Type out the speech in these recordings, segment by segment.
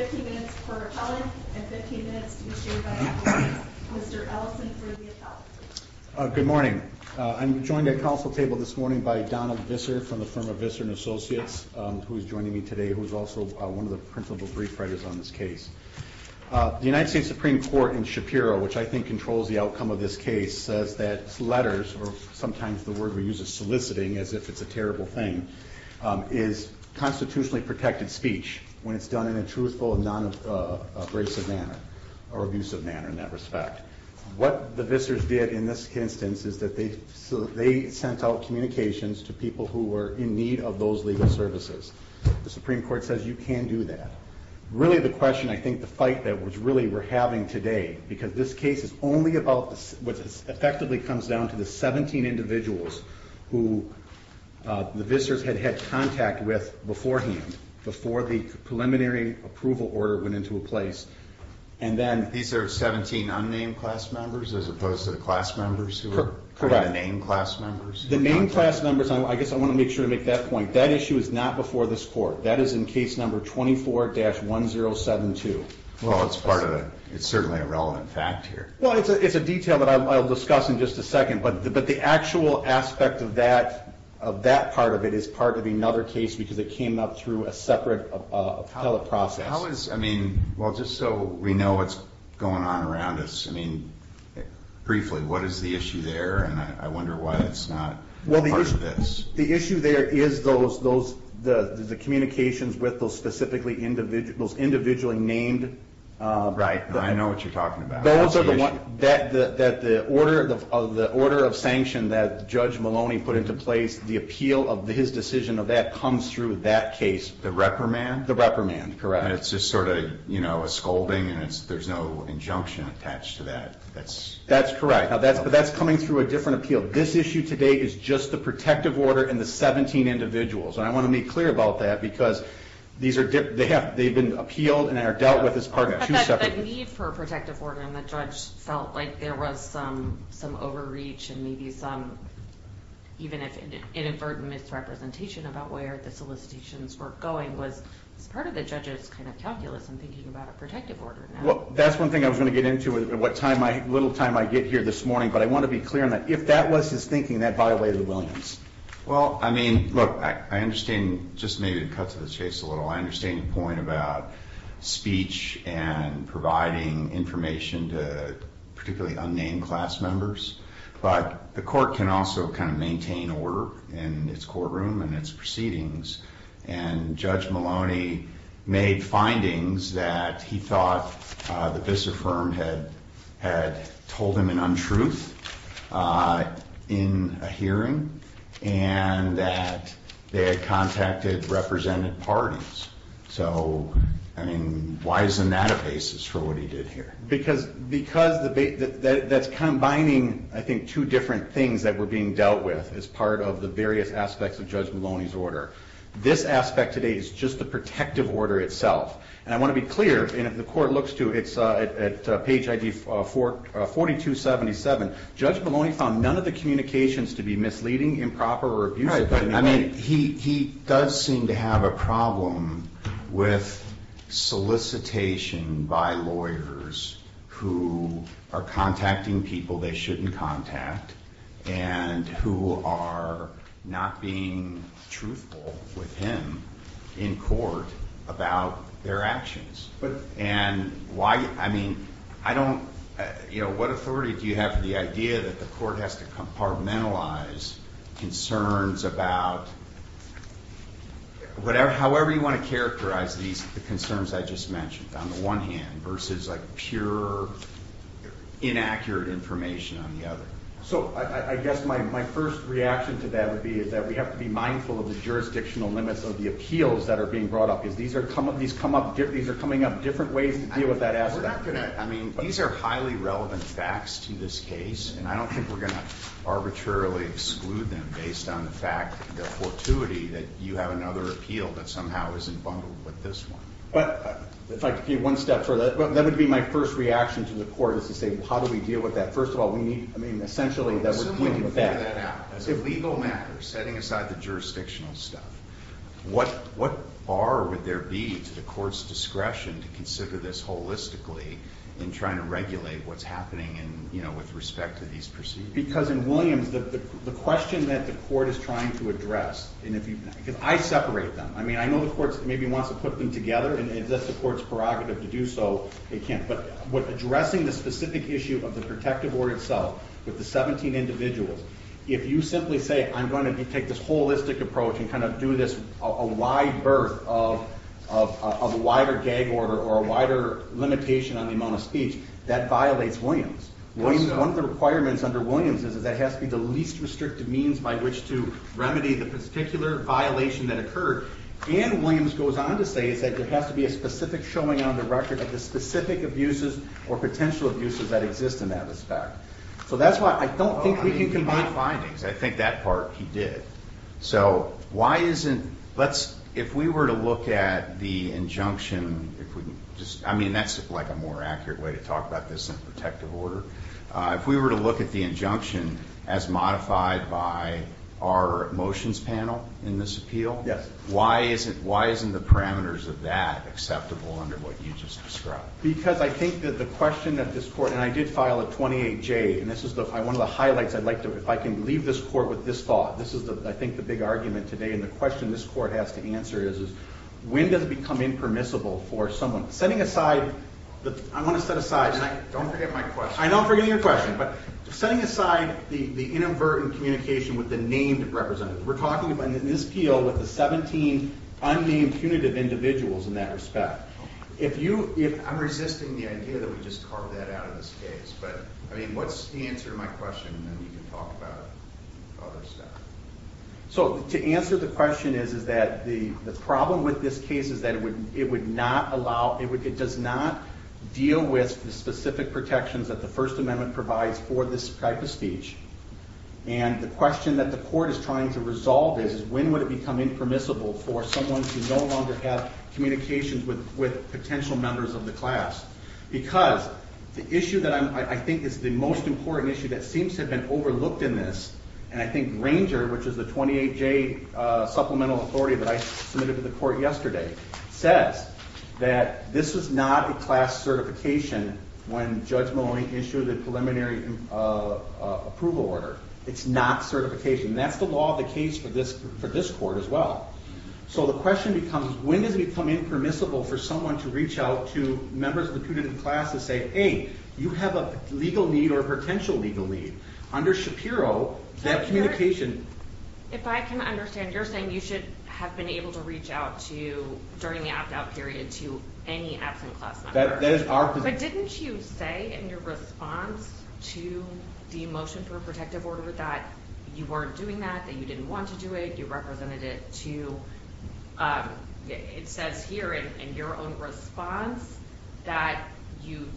15 minutes per appellant, and 15 minutes to be shaded by appellants. Mr. Ellison for the appellant. Good morning. I'm joined at council table this morning by Donald Visser from the firm of Visser & Associates, who is joining me today, who is also one of the principal brief writers on this case. The United States Supreme Court in Shapiro, which I think controls the outcome of this case, says that letters, or sometimes the word we use is soliciting, as if it's a terrible thing, is constitutionally protected speech when it's done in a truthful and non-abrasive manner, or abusive manner in that respect. What the Vissers did in this instance is that they sent out communications to people who were in need of those legal services. The Supreme Court says you can do that. Really the question, I think, the fight that was really we're having today, because this case is only about what effectively comes down to the 17 individuals who the Vissers had had contact with beforehand, before the preliminary approval order went into place. These are 17 unnamed class members, as opposed to the class members who were named class members? Correct. The named class members, I guess I want to make sure to make that point, that issue is not before this court. That is in case number 24-1072. It's certainly a relevant fact here. It's a detail that I'll discuss in just a second, but the actual aspect of that part of it is part of another case, because it came up through a separate appellate process. Just so we know what's going on around us, briefly, what is the issue there? I wonder why it's not part of this. The issue there is the communications with those specifically individually named... Right, I know what you're talking about. The order of sanction that Judge Maloney put into place, the appeal of his decision of that comes through that case. The reprimand? The reprimand, correct. It's just sort of a scolding, and there's no injunction attached to that. That's correct, but that's coming through a different appeal. This issue today is just the protective order and the 17 individuals. I want to be clear about that, because they've been appealed and are dealt with as part of two separate... The need for a protective order, and the judge felt like there was some overreach and maybe some, even if inadvertent, misrepresentation about where the solicitations were going was part of the judge's calculus in thinking about a protective order. Well, that's one thing I was going to get into a little time I get here this morning, but I want to be clear on that. If that was his thinking, that violated Williams. Well, I mean, look, I understand, just maybe to cut to the chase a little, I understand your point about speech and providing information to particularly unnamed class members, but the court can also kind of maintain order in its courtroom and its proceedings. And Judge Maloney made findings that he thought the VISA firm had told him an untruth in a hearing, and that they had contacted representative parties. So, I mean, why isn't that a basis for what he did here? Because that's combining, I think, two different things that were being dealt with as part of the various aspects of Judge Maloney's order. This aspect today is just the protective order itself. And I want to be clear, and if the court looks to, it's at page ID 4277, Judge Maloney found none of the communications to be misleading, improper, or abusive. I mean, he does seem to have a problem with solicitation by lawyers who are contacting people they shouldn't contact and who are not being truthful with him in court about their actions. And why, I mean, I don't, you know, what authority do you have for the idea that the court has to compartmentalize concerns about whatever, however you want to characterize these concerns I just mentioned on the one hand versus like pure, inaccurate information on the other? So, I guess my first reaction to that would be is that we have to be mindful of the jurisdictional limits of the appeals that are being brought up, because these are coming up different ways to deal with that aspect. We're not going to, I mean, these are highly relevant facts to this case, and I don't think we're going to arbitrarily exclude them based on the fact of the fortuity that you have another appeal that somehow isn't bundled with this one. But, if I could give one step further, that would be my first reaction to the court is to say, well, how do we deal with that? First of all, we need, I mean, essentially that we're dealing with that. As a legal matter, setting aside the jurisdictional stuff, what bar would there be to the court's discretion to consider this holistically in trying to regulate what's happening in, you know, with respect to these proceedings? Because in Williams, the question that the court is trying to address, and if you, because I separate them. I mean, I know the court maybe wants to put them together, and if that's the court's prerogative to do so, it can't. But, addressing the specific issue of the protective order itself with the 17 individuals, if you simply say, I'm going to take this holistic approach and kind of do this, a wide berth of a wider gag order or a wider limitation on the amount of speech, that violates Williams. One of the requirements under Williams is that it has to be the least restrictive means by which to remedy the particular violation that occurred. And, Williams goes on to say is that there has to be a specific showing on the record of the specific abuses or potential abuses that exist in that respect. So, that's why I don't think we can combine findings. I think that part he did. So, why isn't, let's, if we were to look at the injunction, if we just, I mean, that's like a more accurate way to talk about this than protective order. If we were to look at the injunction as modified by our motions panel in this appeal. Yes. Why isn't, why isn't the parameters of that acceptable under what you just described? Because I think that the question that this court, and I did file a 28-J, and this is one of the highlights I'd like to, if I can leave this court with this thought. This is, I think, the big argument today, and the question this court has to answer is, is when does it become impermissible for someone? Setting aside, I want to set aside. Don't forget my question. I know I'm forgetting your question, but setting aside the inadvertent communication with the named representatives. We're talking about in this appeal with the 17 unnamed punitive individuals in that respect. If you, I'm resisting the idea that we just carve that out of this case. But, I mean, what's the answer to my question, and then we can talk about other stuff. So, to answer the question is, is that the problem with this case is that it would not allow, it does not deal with the specific protections that the First Amendment provides for this type of speech. And the question that the court is trying to resolve is, is when would it become impermissible for someone to no longer have communications with potential members of the class? Because the issue that I think is the most important issue that seems to have been overlooked in this, and I think Granger, which is the 28-J supplemental authority that I submitted to the court yesterday, says that this is not a class certification when Judge Moline issued the preliminary approval order. It's not certification. That's the law of the case for this court as well. So, the question becomes, when does it become impermissible for someone to reach out to members of the punitive class to say, hey, you have a legal need or a potential legal need? Under Shapiro, that communication. If I can understand, you're saying you should have been able to reach out to, during the opt-out period, to any absent class member. That is our position. But didn't you say in your response to the motion for a protective order that you weren't doing that, that you didn't want to do it, you represented it to, it says here in your own response that you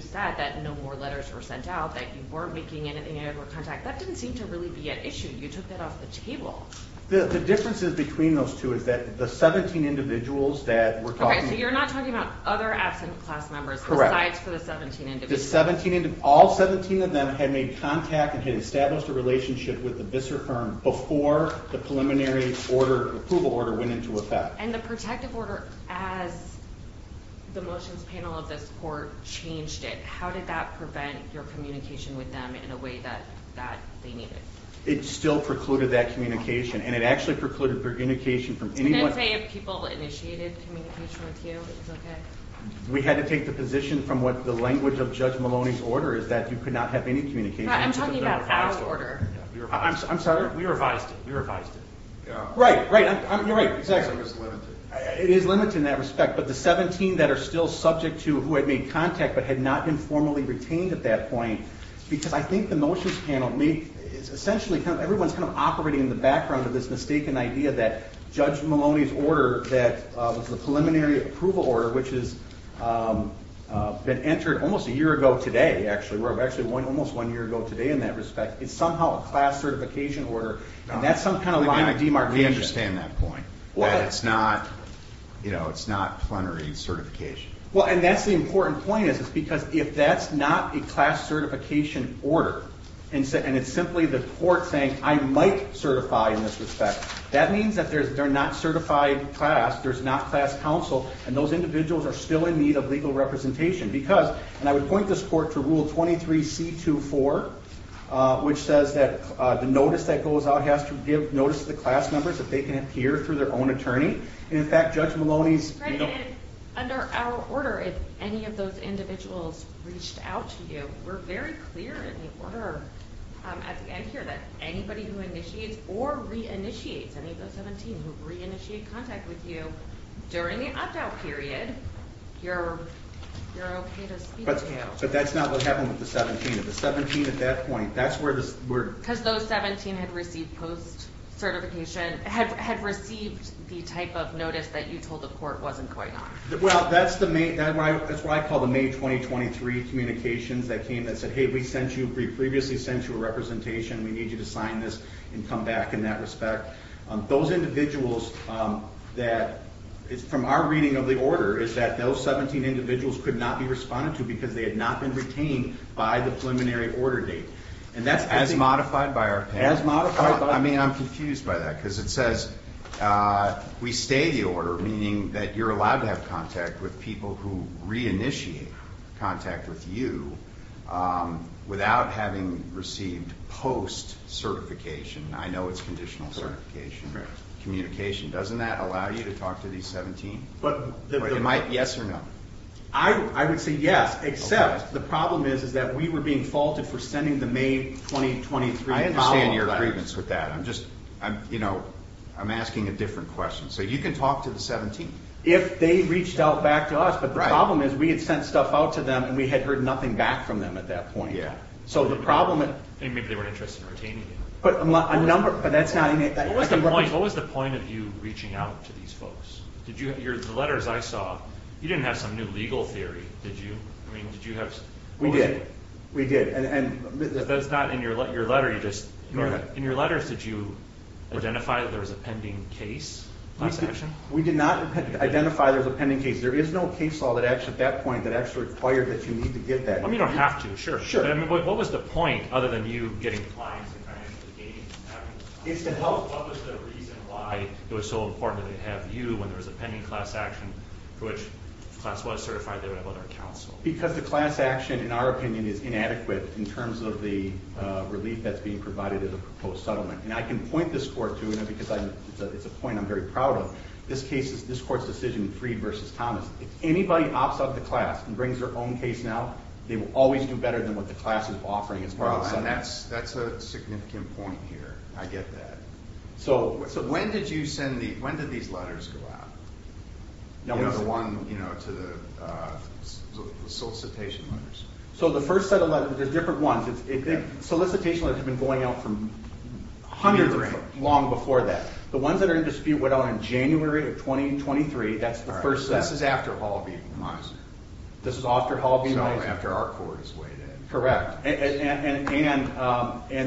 said that no more letters were sent out, that you weren't making any contact. That didn't seem to really be an issue. You took that off the table. The difference between those two is that the 17 individuals that were talking… Okay, so you're not talking about other absent class members besides for the 17 individuals. Correct. All 17 of them had made contact and had established a relationship with the VISER firm before the preliminary approval order went into effect. And the protective order, as the motions panel of this court changed it, how did that prevent your communication with them in a way that they needed? It still precluded that communication. And it actually precluded communication from anyone… Didn't it say if people initiated communication with you, it was okay? We had to take the position from what the language of Judge Maloney's order is that you could not have any communication. I'm talking about our order. I'm sorry? We revised it. We revised it. Right. You're right. Exactly. It was limited. It is limited in that respect. But the 17 that are still subject to who had made contact but had not been formally retained at that point… Because I think the motions panel… Essentially, everyone's kind of operating in the background of this mistaken idea that Judge Maloney's order that was the preliminary approval order, which has been entered almost a year ago today, actually. We're actually almost one year ago today in that respect. It's somehow a class certification order. And that's some kind of line of demarcation. We understand that point. What? That it's not plenary certification. Well, and that's the important point is because if that's not a class certification order and it's simply the court saying, I might certify in this respect, that means that they're not certified class, there's not class counsel, and those individuals are still in need of legal representation. Because, and I would point this court to Rule 23C24, which says that the notice that goes out has to give notice to the class members if they can appear through their own attorney. And in fact, Judge Maloney's… Right, and under our order, if any of those individuals reached out to you, we're very clear in the order at the end here that anybody who initiates or re-initiates, any of those 17 who re-initiate contact with you during the opt-out period, you're okay to speak to. But that's not what happened with the 17. The 17 at that point, that's where… Because those 17 had received post-certification, had received the type of notice that you told the court wasn't going on. Well, that's what I call the May 2023 communications that came and said, hey, we sent you, we previously sent you a representation, we need you to sign this and come back in that respect. Those individuals that, from our reading of the order, is that those 17 individuals could not be responded to because they had not been retained by the preliminary order date. And that's as modified by our… As modified by… I mean, I'm confused by that, because it says we stay the order, meaning that you're allowed to have contact with people who re-initiate contact with you without having received post-certification. I know it's conditional certification. Communication. Doesn't that allow you to talk to these 17? It might. Yes or no? I would say yes, except the problem is that we were being faulted for sending the May 2023… I understand your grievance with that. I'm just, you know, I'm asking a different question. So you can talk to the 17. If they reached out back to us, but the problem is we had sent stuff out to them and we had heard nothing back from them at that point. So the problem… Maybe they weren't interested in retaining you. But a number… What was the point of you reaching out to these folks? The letters I saw, you didn't have some new legal theory, did you? I mean, did you have… We did. We did. If that's not in your letter, you just… In your letters, did you identify that there was a pending case, class action? We did not identify there was a pending case. There is no case law at that point that actually required that you need to get that. I mean, you don't have to, sure. Sure. But what was the point, other than you getting clients and financially gaining… It's to help… What was the reason why it was so important that they have you when there was a pending class action for which the class was certified they would have other counsel? Because the class action, in our opinion, is inadequate in terms of the relief that's being provided as a proposed settlement. And I can point this court to, because it's a point I'm very proud of, this case, this court's decision, Freed v. Thomas. If anybody opts out of the class and brings their own case now, they will always do better than what the class is offering as part of the settlement. Well, and that's a significant point here. I get that. So when did you send the… When did these letters go out? The one to the solicitation letters. So the first set of letters, there's different ones. Solicitation letters have been going out for hundreds of years, long before that. The ones that are in dispute went out in January of 2023. That's the first set. This is after Hall v. Meisner. This is after Hall v. Meisner. So after our court is weighed in. And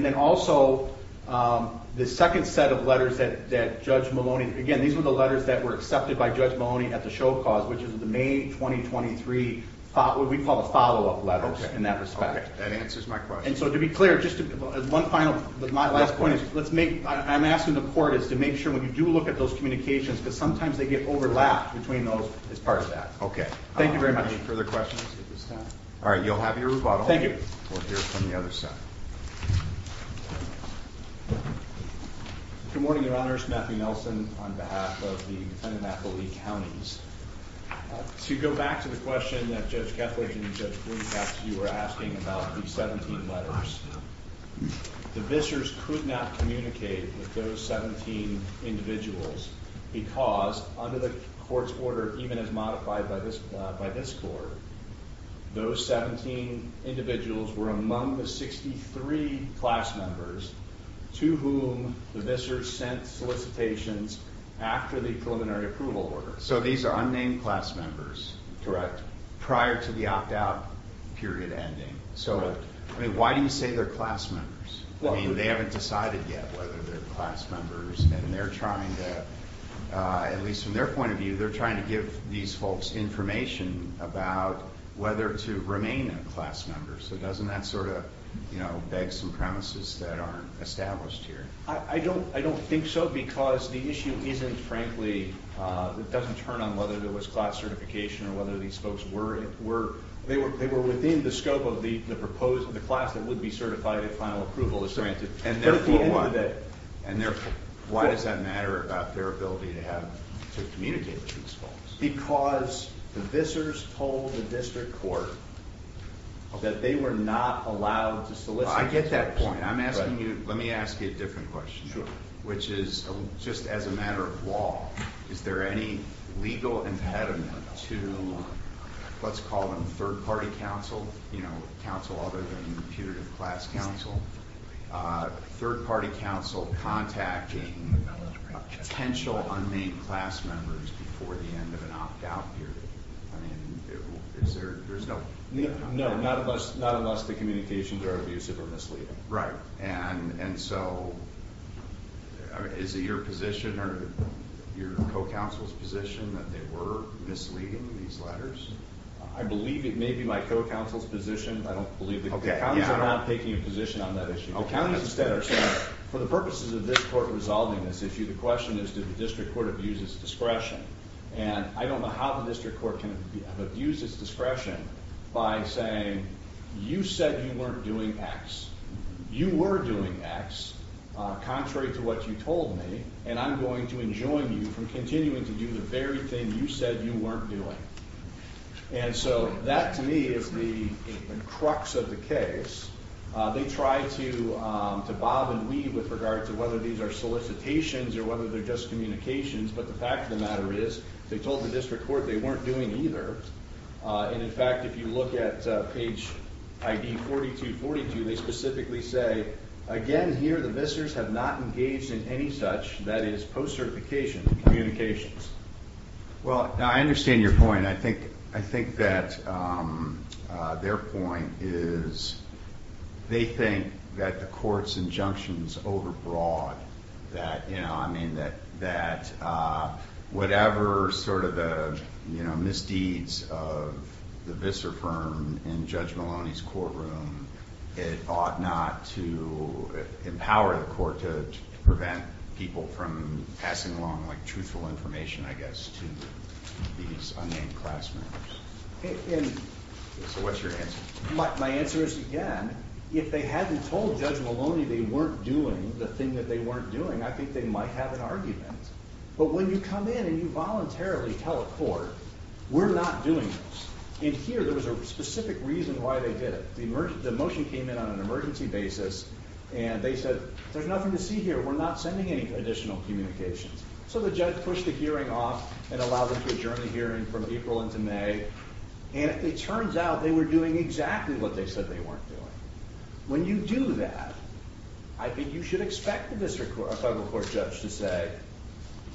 then also, the second set of letters that Judge Maloney… Again, these were the letters that were accepted by Judge Maloney at the show cause, which is the May 2023, what we call the follow-up letters in that respect. That answers my question. And so to be clear, just one final, my last point is, let's make… I'm asking the court is to make sure when you do look at those communications, because sometimes they get overlapped between those as part of that. Okay. Thank you very much. I don't have any further questions at this time. All right, you'll have your rebuttal. Thank you. We'll hear from the other side. Good morning, Your Honors. Matthew Nelson on behalf of the defendant, Matthew Lee Counties. To go back to the question that Judge Kethledge and Judge Blomkamp, you were asking about the 17 letters. The Vissers could not communicate with those 17 individuals because under the court's order, even as modified by this court, those 17 individuals were among the 63 class members to whom the Vissers sent solicitations after the preliminary approval order. So these are unnamed class members. Correct. Prior to the opt-out period ending. Correct. So, I mean, why do you say they're class members? I mean, they haven't decided yet whether they're class members and they're trying to, at least from their point of view, they're trying to give these folks information about whether to remain a class member. So doesn't that sort of, you know, beg some premises that aren't established here? I don't think so because the issue isn't frankly, it doesn't turn on whether there was class certification or whether these folks were, they were within the scope of the proposed, the class that would be certified if final approval is granted. And therefore, why does that matter about their ability to have, to communicate with these folks? Because the Vissers told the district court that they were not allowed to solicit. I get that point. I'm asking you, let me ask you a different question. Which is, just as a matter of law, is there any legal impediment to, let's call them third party counsel, you know, counsel other than the punitive class counsel, third party counsel contacting potential unnamed class members before the end of an opt-out period? I mean, is there, there's no... No, not unless the communications are abusive or misleading. Right. And so, is it your position or your co-counsel's position that they were misleading in these letters? I believe it may be my co-counsel's position, but I don't believe it. Okay. Yeah. The counties are not taking a position on that issue. Okay. The counties instead are saying, for the purposes of this court resolving this issue, the question is, did the district court abuse its discretion? And I don't know how the district court can abuse its discretion by saying, you said you weren't doing X. You were doing X, contrary to what you told me, and I'm going to enjoin you from continuing to do the very thing you said you weren't doing. And so that, to me, is the crux of the case. They tried to bob and weave with regard to whether these are solicitations or whether they're just communications, but the fact of the matter is, they told the district court they weren't doing either. And, in fact, if you look at page ID 4242, they specifically say, again, here the visitors have not engaged in any such, that is, post-certification communications. Well, I understand your point. I think that their point is they think that the court's injunctions overbroad, that, you know, I mean, that whatever sort of misdeeds of the visitor firm in Judge Maloney's courtroom, it ought not to empower the court to prevent people from passing along, like, truthful information, I guess, to these unnamed class members. So what's your answer? My answer is, again, if they hadn't told Judge Maloney they weren't doing the thing that they weren't doing, I think they might have an argument. But when you come in and you voluntarily tell a court, we're not doing this, and here there was a specific reason why they did it. The motion came in on an emergency basis, and they said, there's nothing to see here. We're not sending any additional communications. So the judge pushed the hearing off and allowed them to adjourn the hearing from April into May. And it turns out they were doing exactly what they said they weren't doing. When you do that, I think you should expect a district court, a federal court judge to say,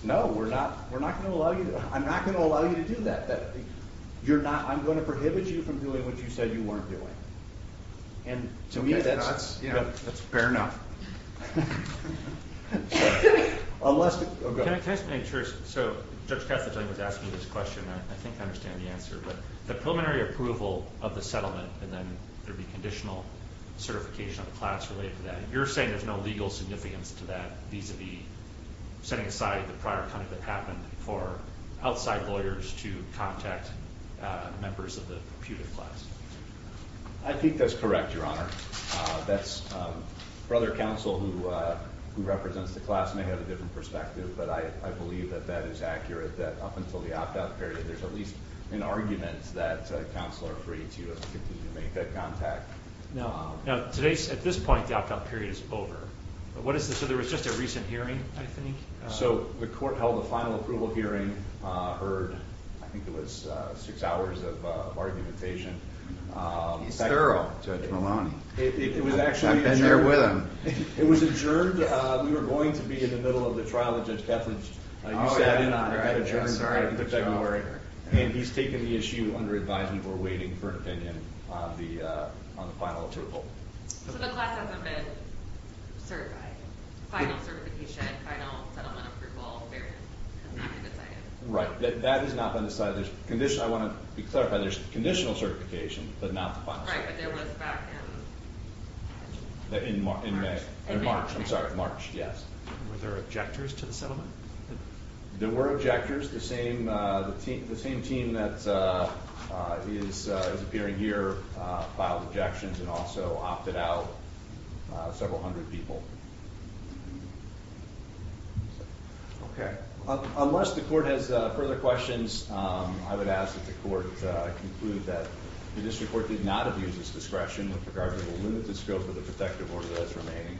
no, we're not going to allow you, I'm not going to allow you to do that. You're not, I'm going to prohibit you from doing what you said you weren't doing. And to me, that's fair enough. Can I just make sure, so Judge Catholic was asking this question, and I think I understand the answer. But the preliminary approval of the settlement, and then there'd be conditional certification of class related to that, and you're saying there's no legal significance to that vis-a-vis setting aside the prior time that happened for outside lawyers to contact members of the computer class. I think that's correct, Your Honor. That's, for other counsel who represents the class may have a different perspective, but I believe that that is accurate, that up until the opt-out period, there's at least an argument that counsel are free to continue to make that contact. Now, at this point, the opt-out period is over. So there was just a recent hearing, I think? So the court held a final approval hearing, heard, I think it was six hours of argumentation. He's thorough, Judge Maloney. I've been there with him. It was adjourned. We were going to be in the middle of the trial, and Judge Catholic, you sat in on it. I got adjourned. And he's taken the issue under advisement. We're waiting for an opinion on the final approval. So the class hasn't been certified. Final certification, final settlement approval hearing. I'm not going to say it. Right. That is not on the side of this. I want to clarify, there's conditional certification, but not the final certification. Right, but there was back in March. In March, I'm sorry. March, yes. Were there objectors to the settlement? There were objectors. The same team that is appearing here filed objections and also opted out several hundred people. Okay. Unless the court has further questions, I would ask that the court conclude that the district court did not abuse its discretion with regard to the limited scope of the protective order that is remaining,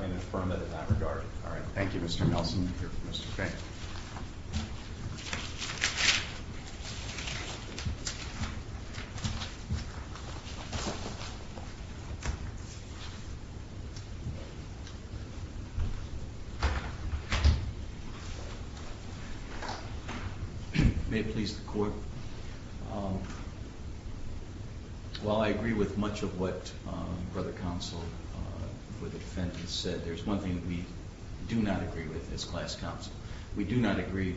and affirm it in that regard. All right. Thank you, Mr. Nelson. Mr. Fink. May it please the court. While I agree with much of what Brother Counsel for the defendant said, there's one thing that we do not agree with as class counsel. We do not agree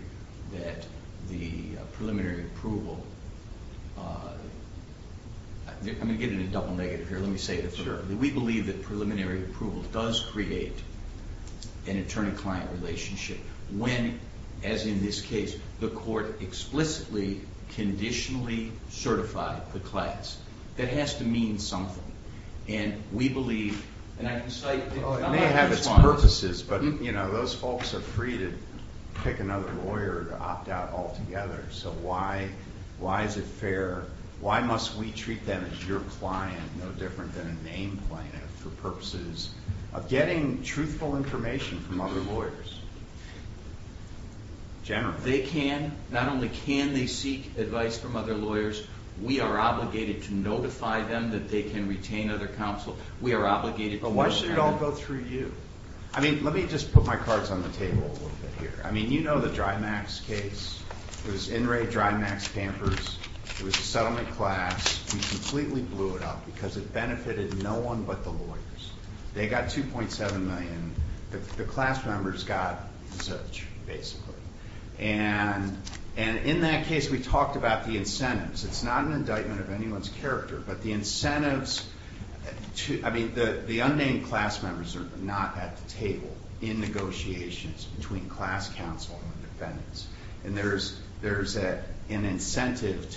that the preliminary approval, I'm going to give it a double negative here, let me say this. We believe that preliminary approval does create an attorney-client relationship when, as in this case, the court explicitly, conditionally certified the class. That has to mean something. And we believe, and I can cite— It may have its purposes, but those folks are free to pick another lawyer to opt out altogether. So why is it fair? Why must we treat them as your client, no different than a name playing out for purposes of getting truthful information from other lawyers? Generally. They can, not only can they seek advice from other lawyers, we are obligated to notify them that they can retain other counsel. We are obligated to— But why should it all go through you? I mean, let me just put my cards on the table a little bit here. I mean, you know the Drymax case. It was in re Drymax Pampers. It was a settlement class. We completely blew it up because it benefited no one but the lawyers. They got $2.7 million. The class members got such, basically. And in that case, we talked about the incentives. It's not an indictment of anyone's character, but the incentives— I mean, the unnamed class members are not at the table in negotiations between class counsel and defendants. And there's an incentive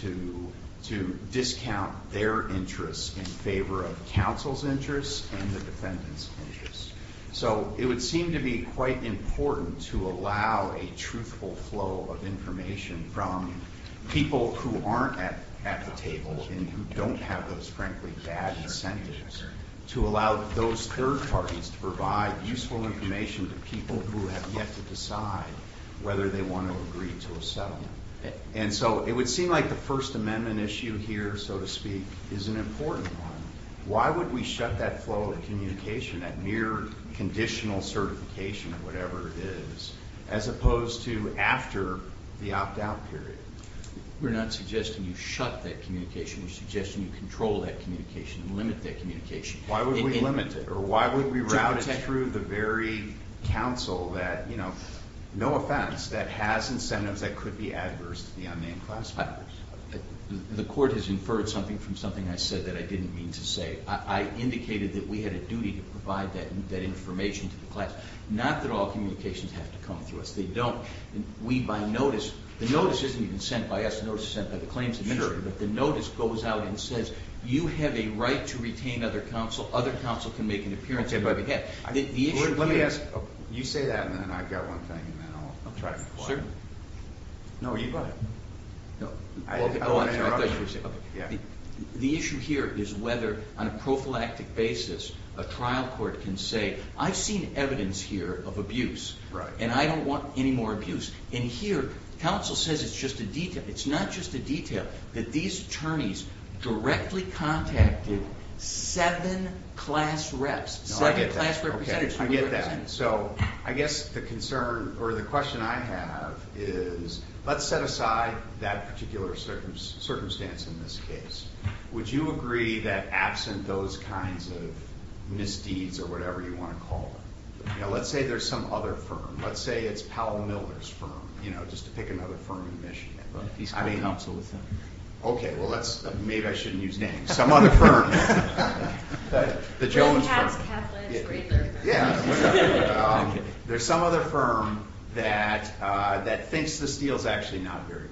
to discount their interests in favor of counsel's interests and the defendants' interests. So it would seem to be quite important to allow a truthful flow of information from people who aren't at the table and who don't have those, frankly, bad incentives to allow those third parties to provide useful information to people who have yet to decide whether they want to agree to a settlement. And so it would seem like the First Amendment issue here, so to speak, is an important one. Why would we shut that flow of communication, that mere conditional certification of whatever it is, as opposed to after the opt-out period? We're not suggesting you shut that communication. We're suggesting you control that communication and limit that communication. Why would we limit it, or why would we route it through the very counsel that, you know, no offense, that has incentives that could be adverse to the unnamed class members? The court has inferred something from something I said that I didn't mean to say. I indicated that we had a duty to provide that information to the class. Not that all communications have to come through us. They don't. We, by notice, the notice isn't even sent by us. The notice is sent by the claims administrator. But the notice goes out and says, you have a right to retain other counsel. Other counsel can make an appearance. Let me ask. You say that, and then I've got one thing, and then I'll try to reply. No, you go ahead. I want to interrupt you. The issue here is whether, on a prophylactic basis, a trial court can say, I've seen evidence here of abuse, and I don't want any more abuse. And here, counsel says it's just a detail. It's not just a detail that these attorneys directly contacted seven class reps, seven class representatives. I get that. So I guess the concern or the question I have is let's set aside that particular circumstance in this case. Would you agree that absent those kinds of misdeeds or whatever you want to call them, let's say there's some other firm, let's say it's Powell Miller's firm, just to pick another firm in Michigan. He's clean counsel with them. Okay. Well, maybe I shouldn't use names. Some other firm. The Jones firm. There's some other firm that thinks this deal is actually not very good,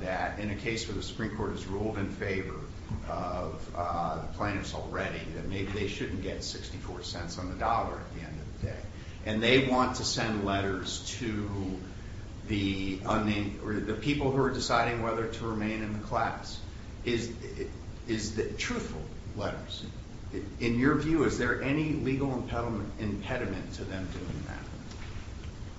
that in a case where the Supreme Court has ruled in favor of the plaintiffs already, that maybe they shouldn't get 64 cents on the dollar at the end of the day. And they want to send letters to the people who are deciding whether to remain in the class. Truthful letters. In your view, is there any legal impediment to them doing that?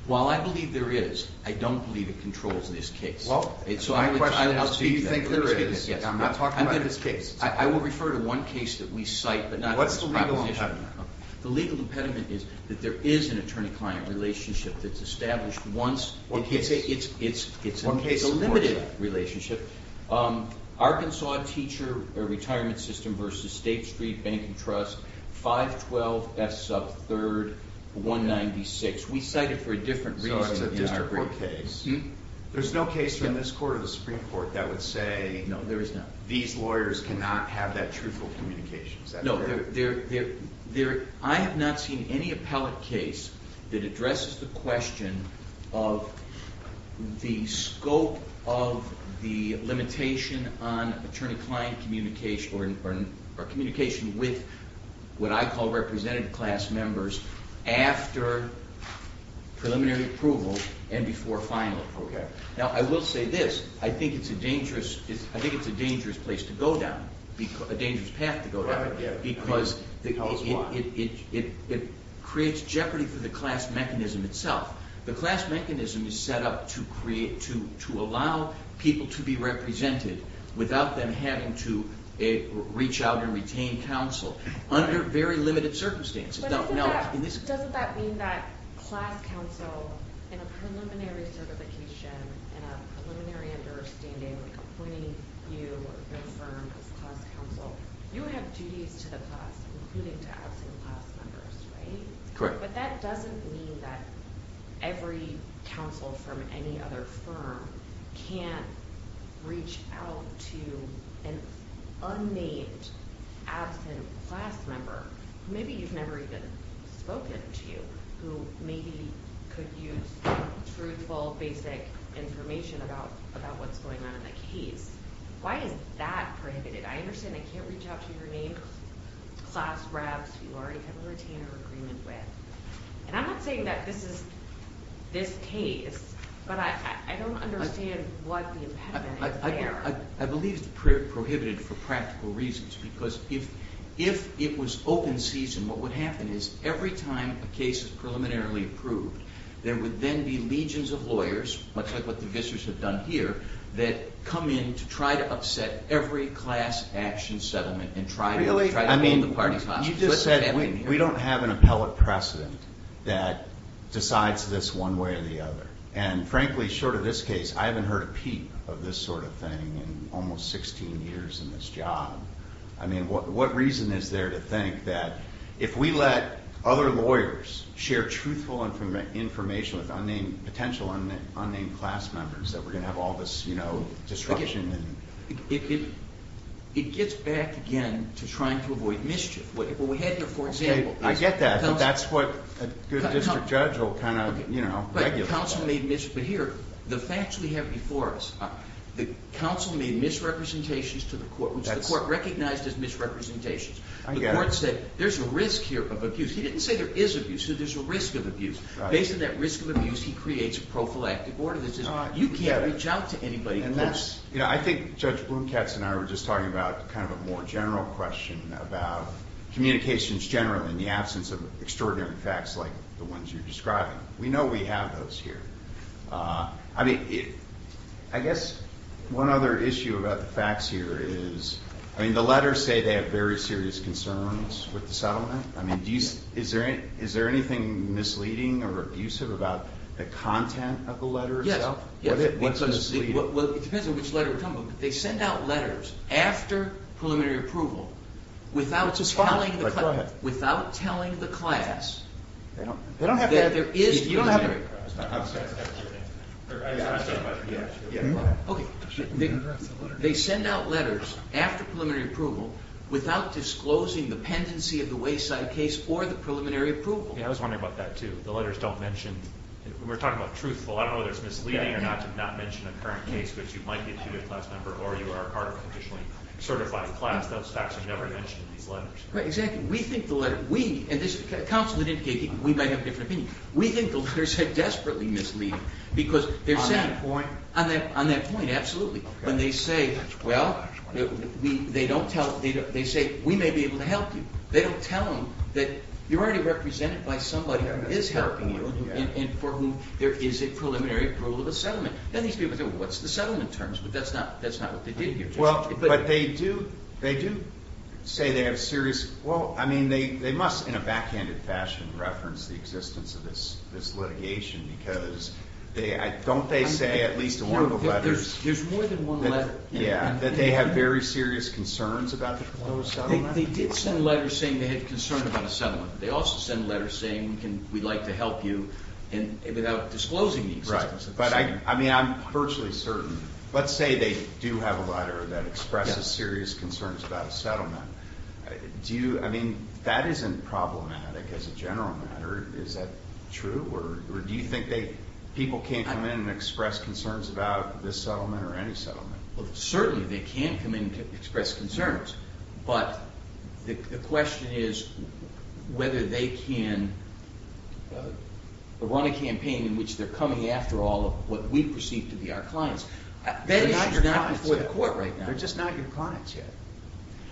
Well, I believe there is. I don't believe it controls this case. Well, my question is, do you think there is? I'm not talking about this case. I will refer to one case that we cite, but not this proposition. The legal impediment is that there is an attorney-client relationship that's established once. One case. It's a limited relationship. Arkansas Teacher Retirement System v. State Street Bank and Trust, 512 S. Sub 3rd, 196. We cite it for a different reason than our brief. So it's a district court case. There's no case from this court or the Supreme Court that would say these lawyers cannot have that truthful communication. Is that correct? I have not seen any appellate case that addresses the question of the scope of the limitation on attorney-client communication or communication with what I call representative class members after preliminary approval and before final approval. Now, I will say this. I think it's a dangerous place to go down, a dangerous path to go down, because it creates jeopardy for the class mechanism itself. The class mechanism is set up to allow people to be represented without them having to reach out and retain counsel under very limited circumstances. But doesn't that mean that class counsel in a preliminary certification and a preliminary understanding, like appointing you or your firm as class counsel, you have duties to the class, including to absent class members, right? Correct. But that doesn't mean that every counsel from any other firm can't reach out to an unnamed absent class member, maybe you've never even spoken to, who maybe could use truthful, basic information about what's going on in the case. Why is that prohibited? I understand they can't reach out to your name, class reps, who you already have a retainer agreement with. And I'm not saying that this is this case, but I don't understand what the impediment is there. I believe it's prohibited for practical reasons. Because if it was open season, what would happen is every time a case is preliminarily approved, there would then be legions of lawyers, much like what the Vissers have done here, that come in to try to upset every class action settlement and try to hold the parties hostage. You just said we don't have an appellate precedent that decides this one way or the other. And frankly, short of this case, I haven't heard a peep of this sort of thing in almost 16 years in this job. I mean, what reason is there to think that if we let other lawyers share truthful information with potential unnamed class members, that we're going to have all this, you know, disruption? It gets back again to trying to avoid mischief. I get that, but that's what a good district judge will kind of, you know, regulate. But here, the facts we have before us, the counsel made misrepresentations to the court, which the court recognized as misrepresentations. I get it. The court said there's a risk here of abuse. He didn't say there is abuse. He said there's a risk of abuse. Based on that risk of abuse, he creates a prophylactic order that says you can't reach out to anybody close. I think Judge Blomkatz and I were just talking about kind of a more general question about communications generally in the absence of extraordinary facts like the ones you're describing. We know we have those here. I mean, I guess one other issue about the facts here is, I mean, the letters say they have very serious concerns with the settlement. I mean, is there anything misleading or abusive about the content of the letters? What's misleading? Well, it depends on which letter we're talking about. They send out letters after preliminary approval without telling the class that there is preliminary approval. You don't have to answer that. Okay. They send out letters after preliminary approval without disclosing the pendency of the wayside case or the preliminary approval. Yeah, I was wondering about that, too. The letters don't mention. We're talking about truthful. I don't know whether it's misleading or not to not mention a current case in which you might be a student class member or you are a part of a conditionally certified class. Those facts are never mentioned in these letters. Right, exactly. We think the letter, we, and this is counsel that indicated we might have a different opinion. We think the letters are desperately misleading because they're saying. On that point? On that point, absolutely. When they say, well, they don't tell, they say, we may be able to help you. They don't tell them that you're already represented by somebody who is helping you and for whom there is a preliminary approval of a settlement. Then these people say, well, what's the settlement terms? But that's not what they did here. Well, but they do say they have serious, well, I mean, they must in a backhanded fashion reference the existence of this litigation because they, don't they say at least in one of the letters. There's more than one letter. Yeah, that they have very serious concerns about the preliminary settlement. They did send a letter saying they had concern about a settlement. They also sent a letter saying we'd like to help you and without disclosing the existence of the settlement. Right, but I mean, I'm virtually certain. Let's say they do have a letter that expresses serious concerns about a settlement. Do you, I mean, that isn't problematic as a general matter. Is that true or do you think they, people can't come in and express concerns about this settlement or any settlement? Well, certainly they can come in and express concerns. But the question is whether they can run a campaign in which they're coming after all of what we perceive to be our clients. They're not your clients yet. That issue's not before the court right now. They're just not your clients yet.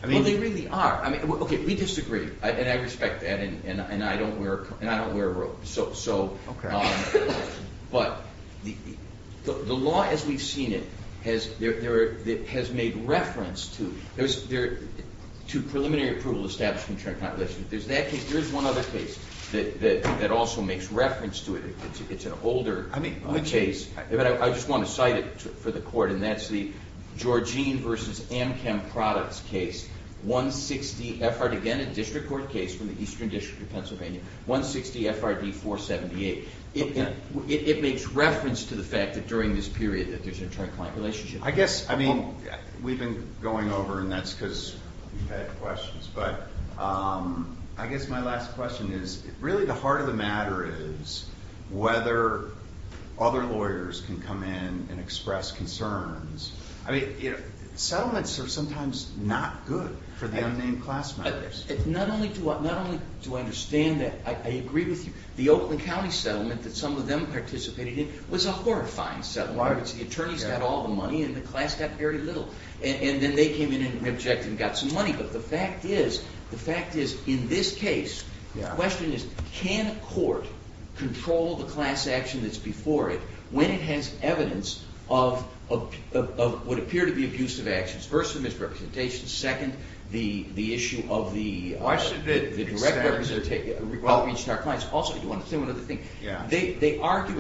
Well, they really are. I mean, okay, we disagree and I respect that and I don't wear a robe. Okay. But the law as we've seen it has made reference to preliminary approval to establish a contract. There's that case. There is one other case that also makes reference to it. It's an older case. I just want to cite it for the court and that's the Georgine versus Amchem Products case. Again, a district court case from the Eastern District of Pennsylvania, 160 FRD 478. It makes reference to the fact that during this period that there's an inter-client relationship. I guess, I mean, we've been going over and that's because we've had questions. But I guess my last question is really the heart of the matter is whether other lawyers can come in and express concerns. I mean, settlements are sometimes not good for the unnamed class members. Not only do I understand that, I agree with you. The Oakland County settlement that some of them participated in was a horrifying settlement. The attorneys got all the money and the class got very little. And then they came in and objected and got some money. But the fact is in this case, the question is can a court control the class action that's before it when it has evidence of what appear to be abusive actions? First, the misrepresentation. Second, the issue of the direct representation of our clients. Also, you want to say one other thing? Yeah. They argue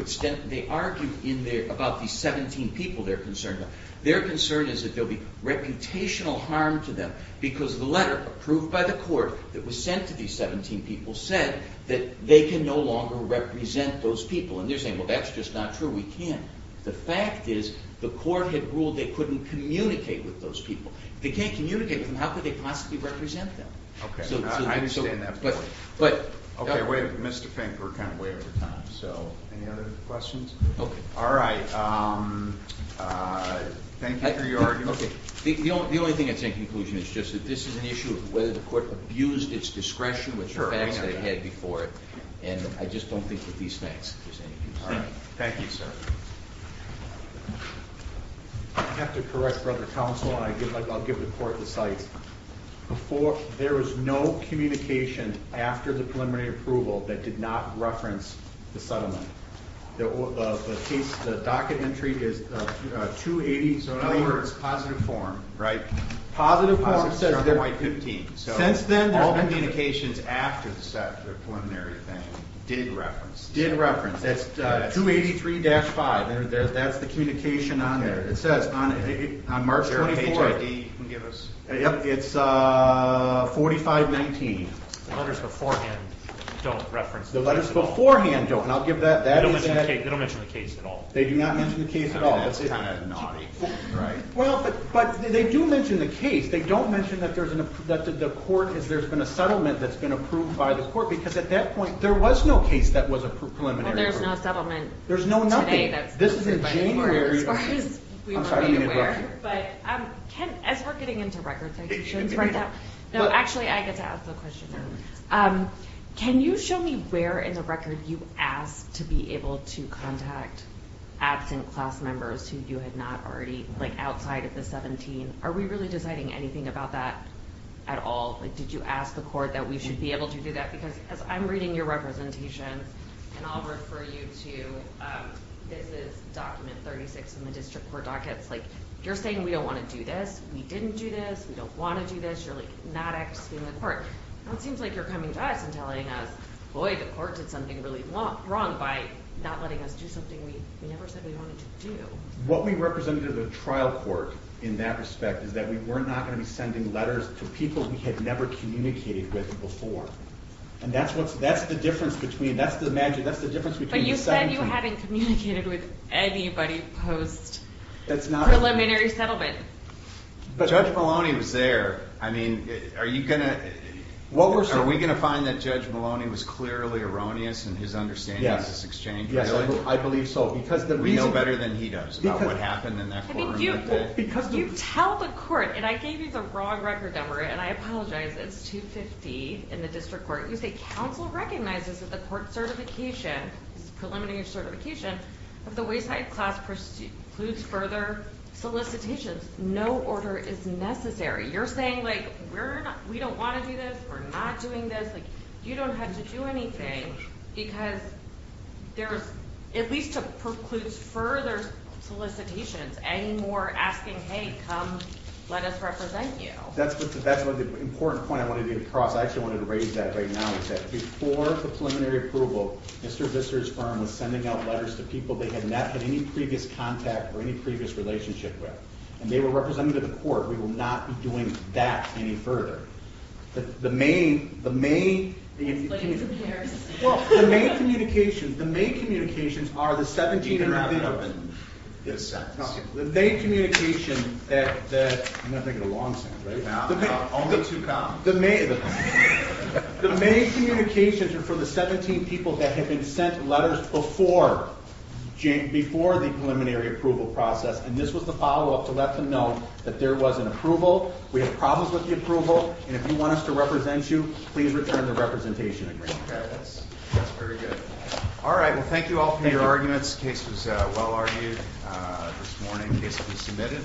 about the 17 people they're concerned about. Their concern is that there will be reputational harm to them because the letter approved by the court that was sent to these 17 people said that they can no longer represent those people. And they're saying, well, that's just not true. We can't. The fact is the court had ruled they couldn't communicate with those people. If they can't communicate with them, how could they possibly represent them? Okay. I understand that point. Okay. Mr. Fink, we're kind of way over time. So any other questions? Okay. All right. Thank you for your argument. Okay. The only thing I'd say in conclusion is just that this is an issue of whether the court abused its discretion with the facts that it had before it. And I just don't think that these facts are of any use. All right. Thank you, sir. I have to correct, Brother Counsel, and I'll give the court the sites. There was no communication after the preliminary approval that did not reference the settlement. The case, the docket entry is 280. So in other words, positive form, right? Positive form says they're 15. Since then, all communications after the preliminary thing did reference. Did reference. That's 283-5. That's the communication on there. It says on March 24th. It's 4519. The letters beforehand don't reference. The letters beforehand don't. And I'll give that. They don't mention the case at all. They do not mention the case at all. That's kind of naughty. Well, but they do mention the case. They don't mention that there's been a settlement that's been approved by the court. Because at that point, there was no case that was approved preliminary. Well, there's no settlement today. There's no nothing. This is in January. As far as we were being aware. But as we're getting into record citations right now. No, actually, I get to ask the question now. Can you show me where in the record you asked to be able to contact absent class members who you had not already, like outside of the 17? Are we really deciding anything about that at all? Did you ask the court that we should be able to do that? Because as I'm reading your representation, and I'll refer you to, this is document 36 in the district court docket. It's like, you're saying we don't want to do this. We didn't do this. We don't want to do this. You're like not asking the court. It seems like you're coming to us and telling us, boy, the court did something really wrong by not letting us do something we never said we wanted to do. What we represented as a trial court in that respect is that we were not going to be sending letters to people we had never communicated with before. That's the difference between the 17. But you said you hadn't communicated with anybody post-preliminary settlement. Judge Maloney was there. Are we going to find that Judge Maloney was clearly erroneous in his understanding of this exchange? Yes, I believe so. We know better than he does about what happened in that courtroom. You tell the court, and I gave you the wrong record number, and I apologize. It's 250 in the district court. You say counsel recognizes that the court certification, preliminary certification, of the wayside class precludes further solicitations. No order is necessary. You're saying like we don't want to do this. We're not doing this. You don't have to do anything because there's at least precludes further solicitations and more asking, hey, come let us represent you. That's the important point I wanted to get across. I actually wanted to raise that right now, is that before the preliminary approval, Mr. Visser's firm was sending out letters to people they had not had any previous contact or any previous relationship with, and they were representing to the court. We will not be doing that any further. The main communications are the 17- You can wrap it up in a sentence. The main communications are for the 17 people that had been sent letters before the preliminary approval process, and this was the follow-up to let them know that there was an approval. We have problems with the approval, and if you want us to represent you, please return the representation agreement. That's very good. All right, well, thank you all for your arguments. This case was well-argued this morning. The case will be submitted.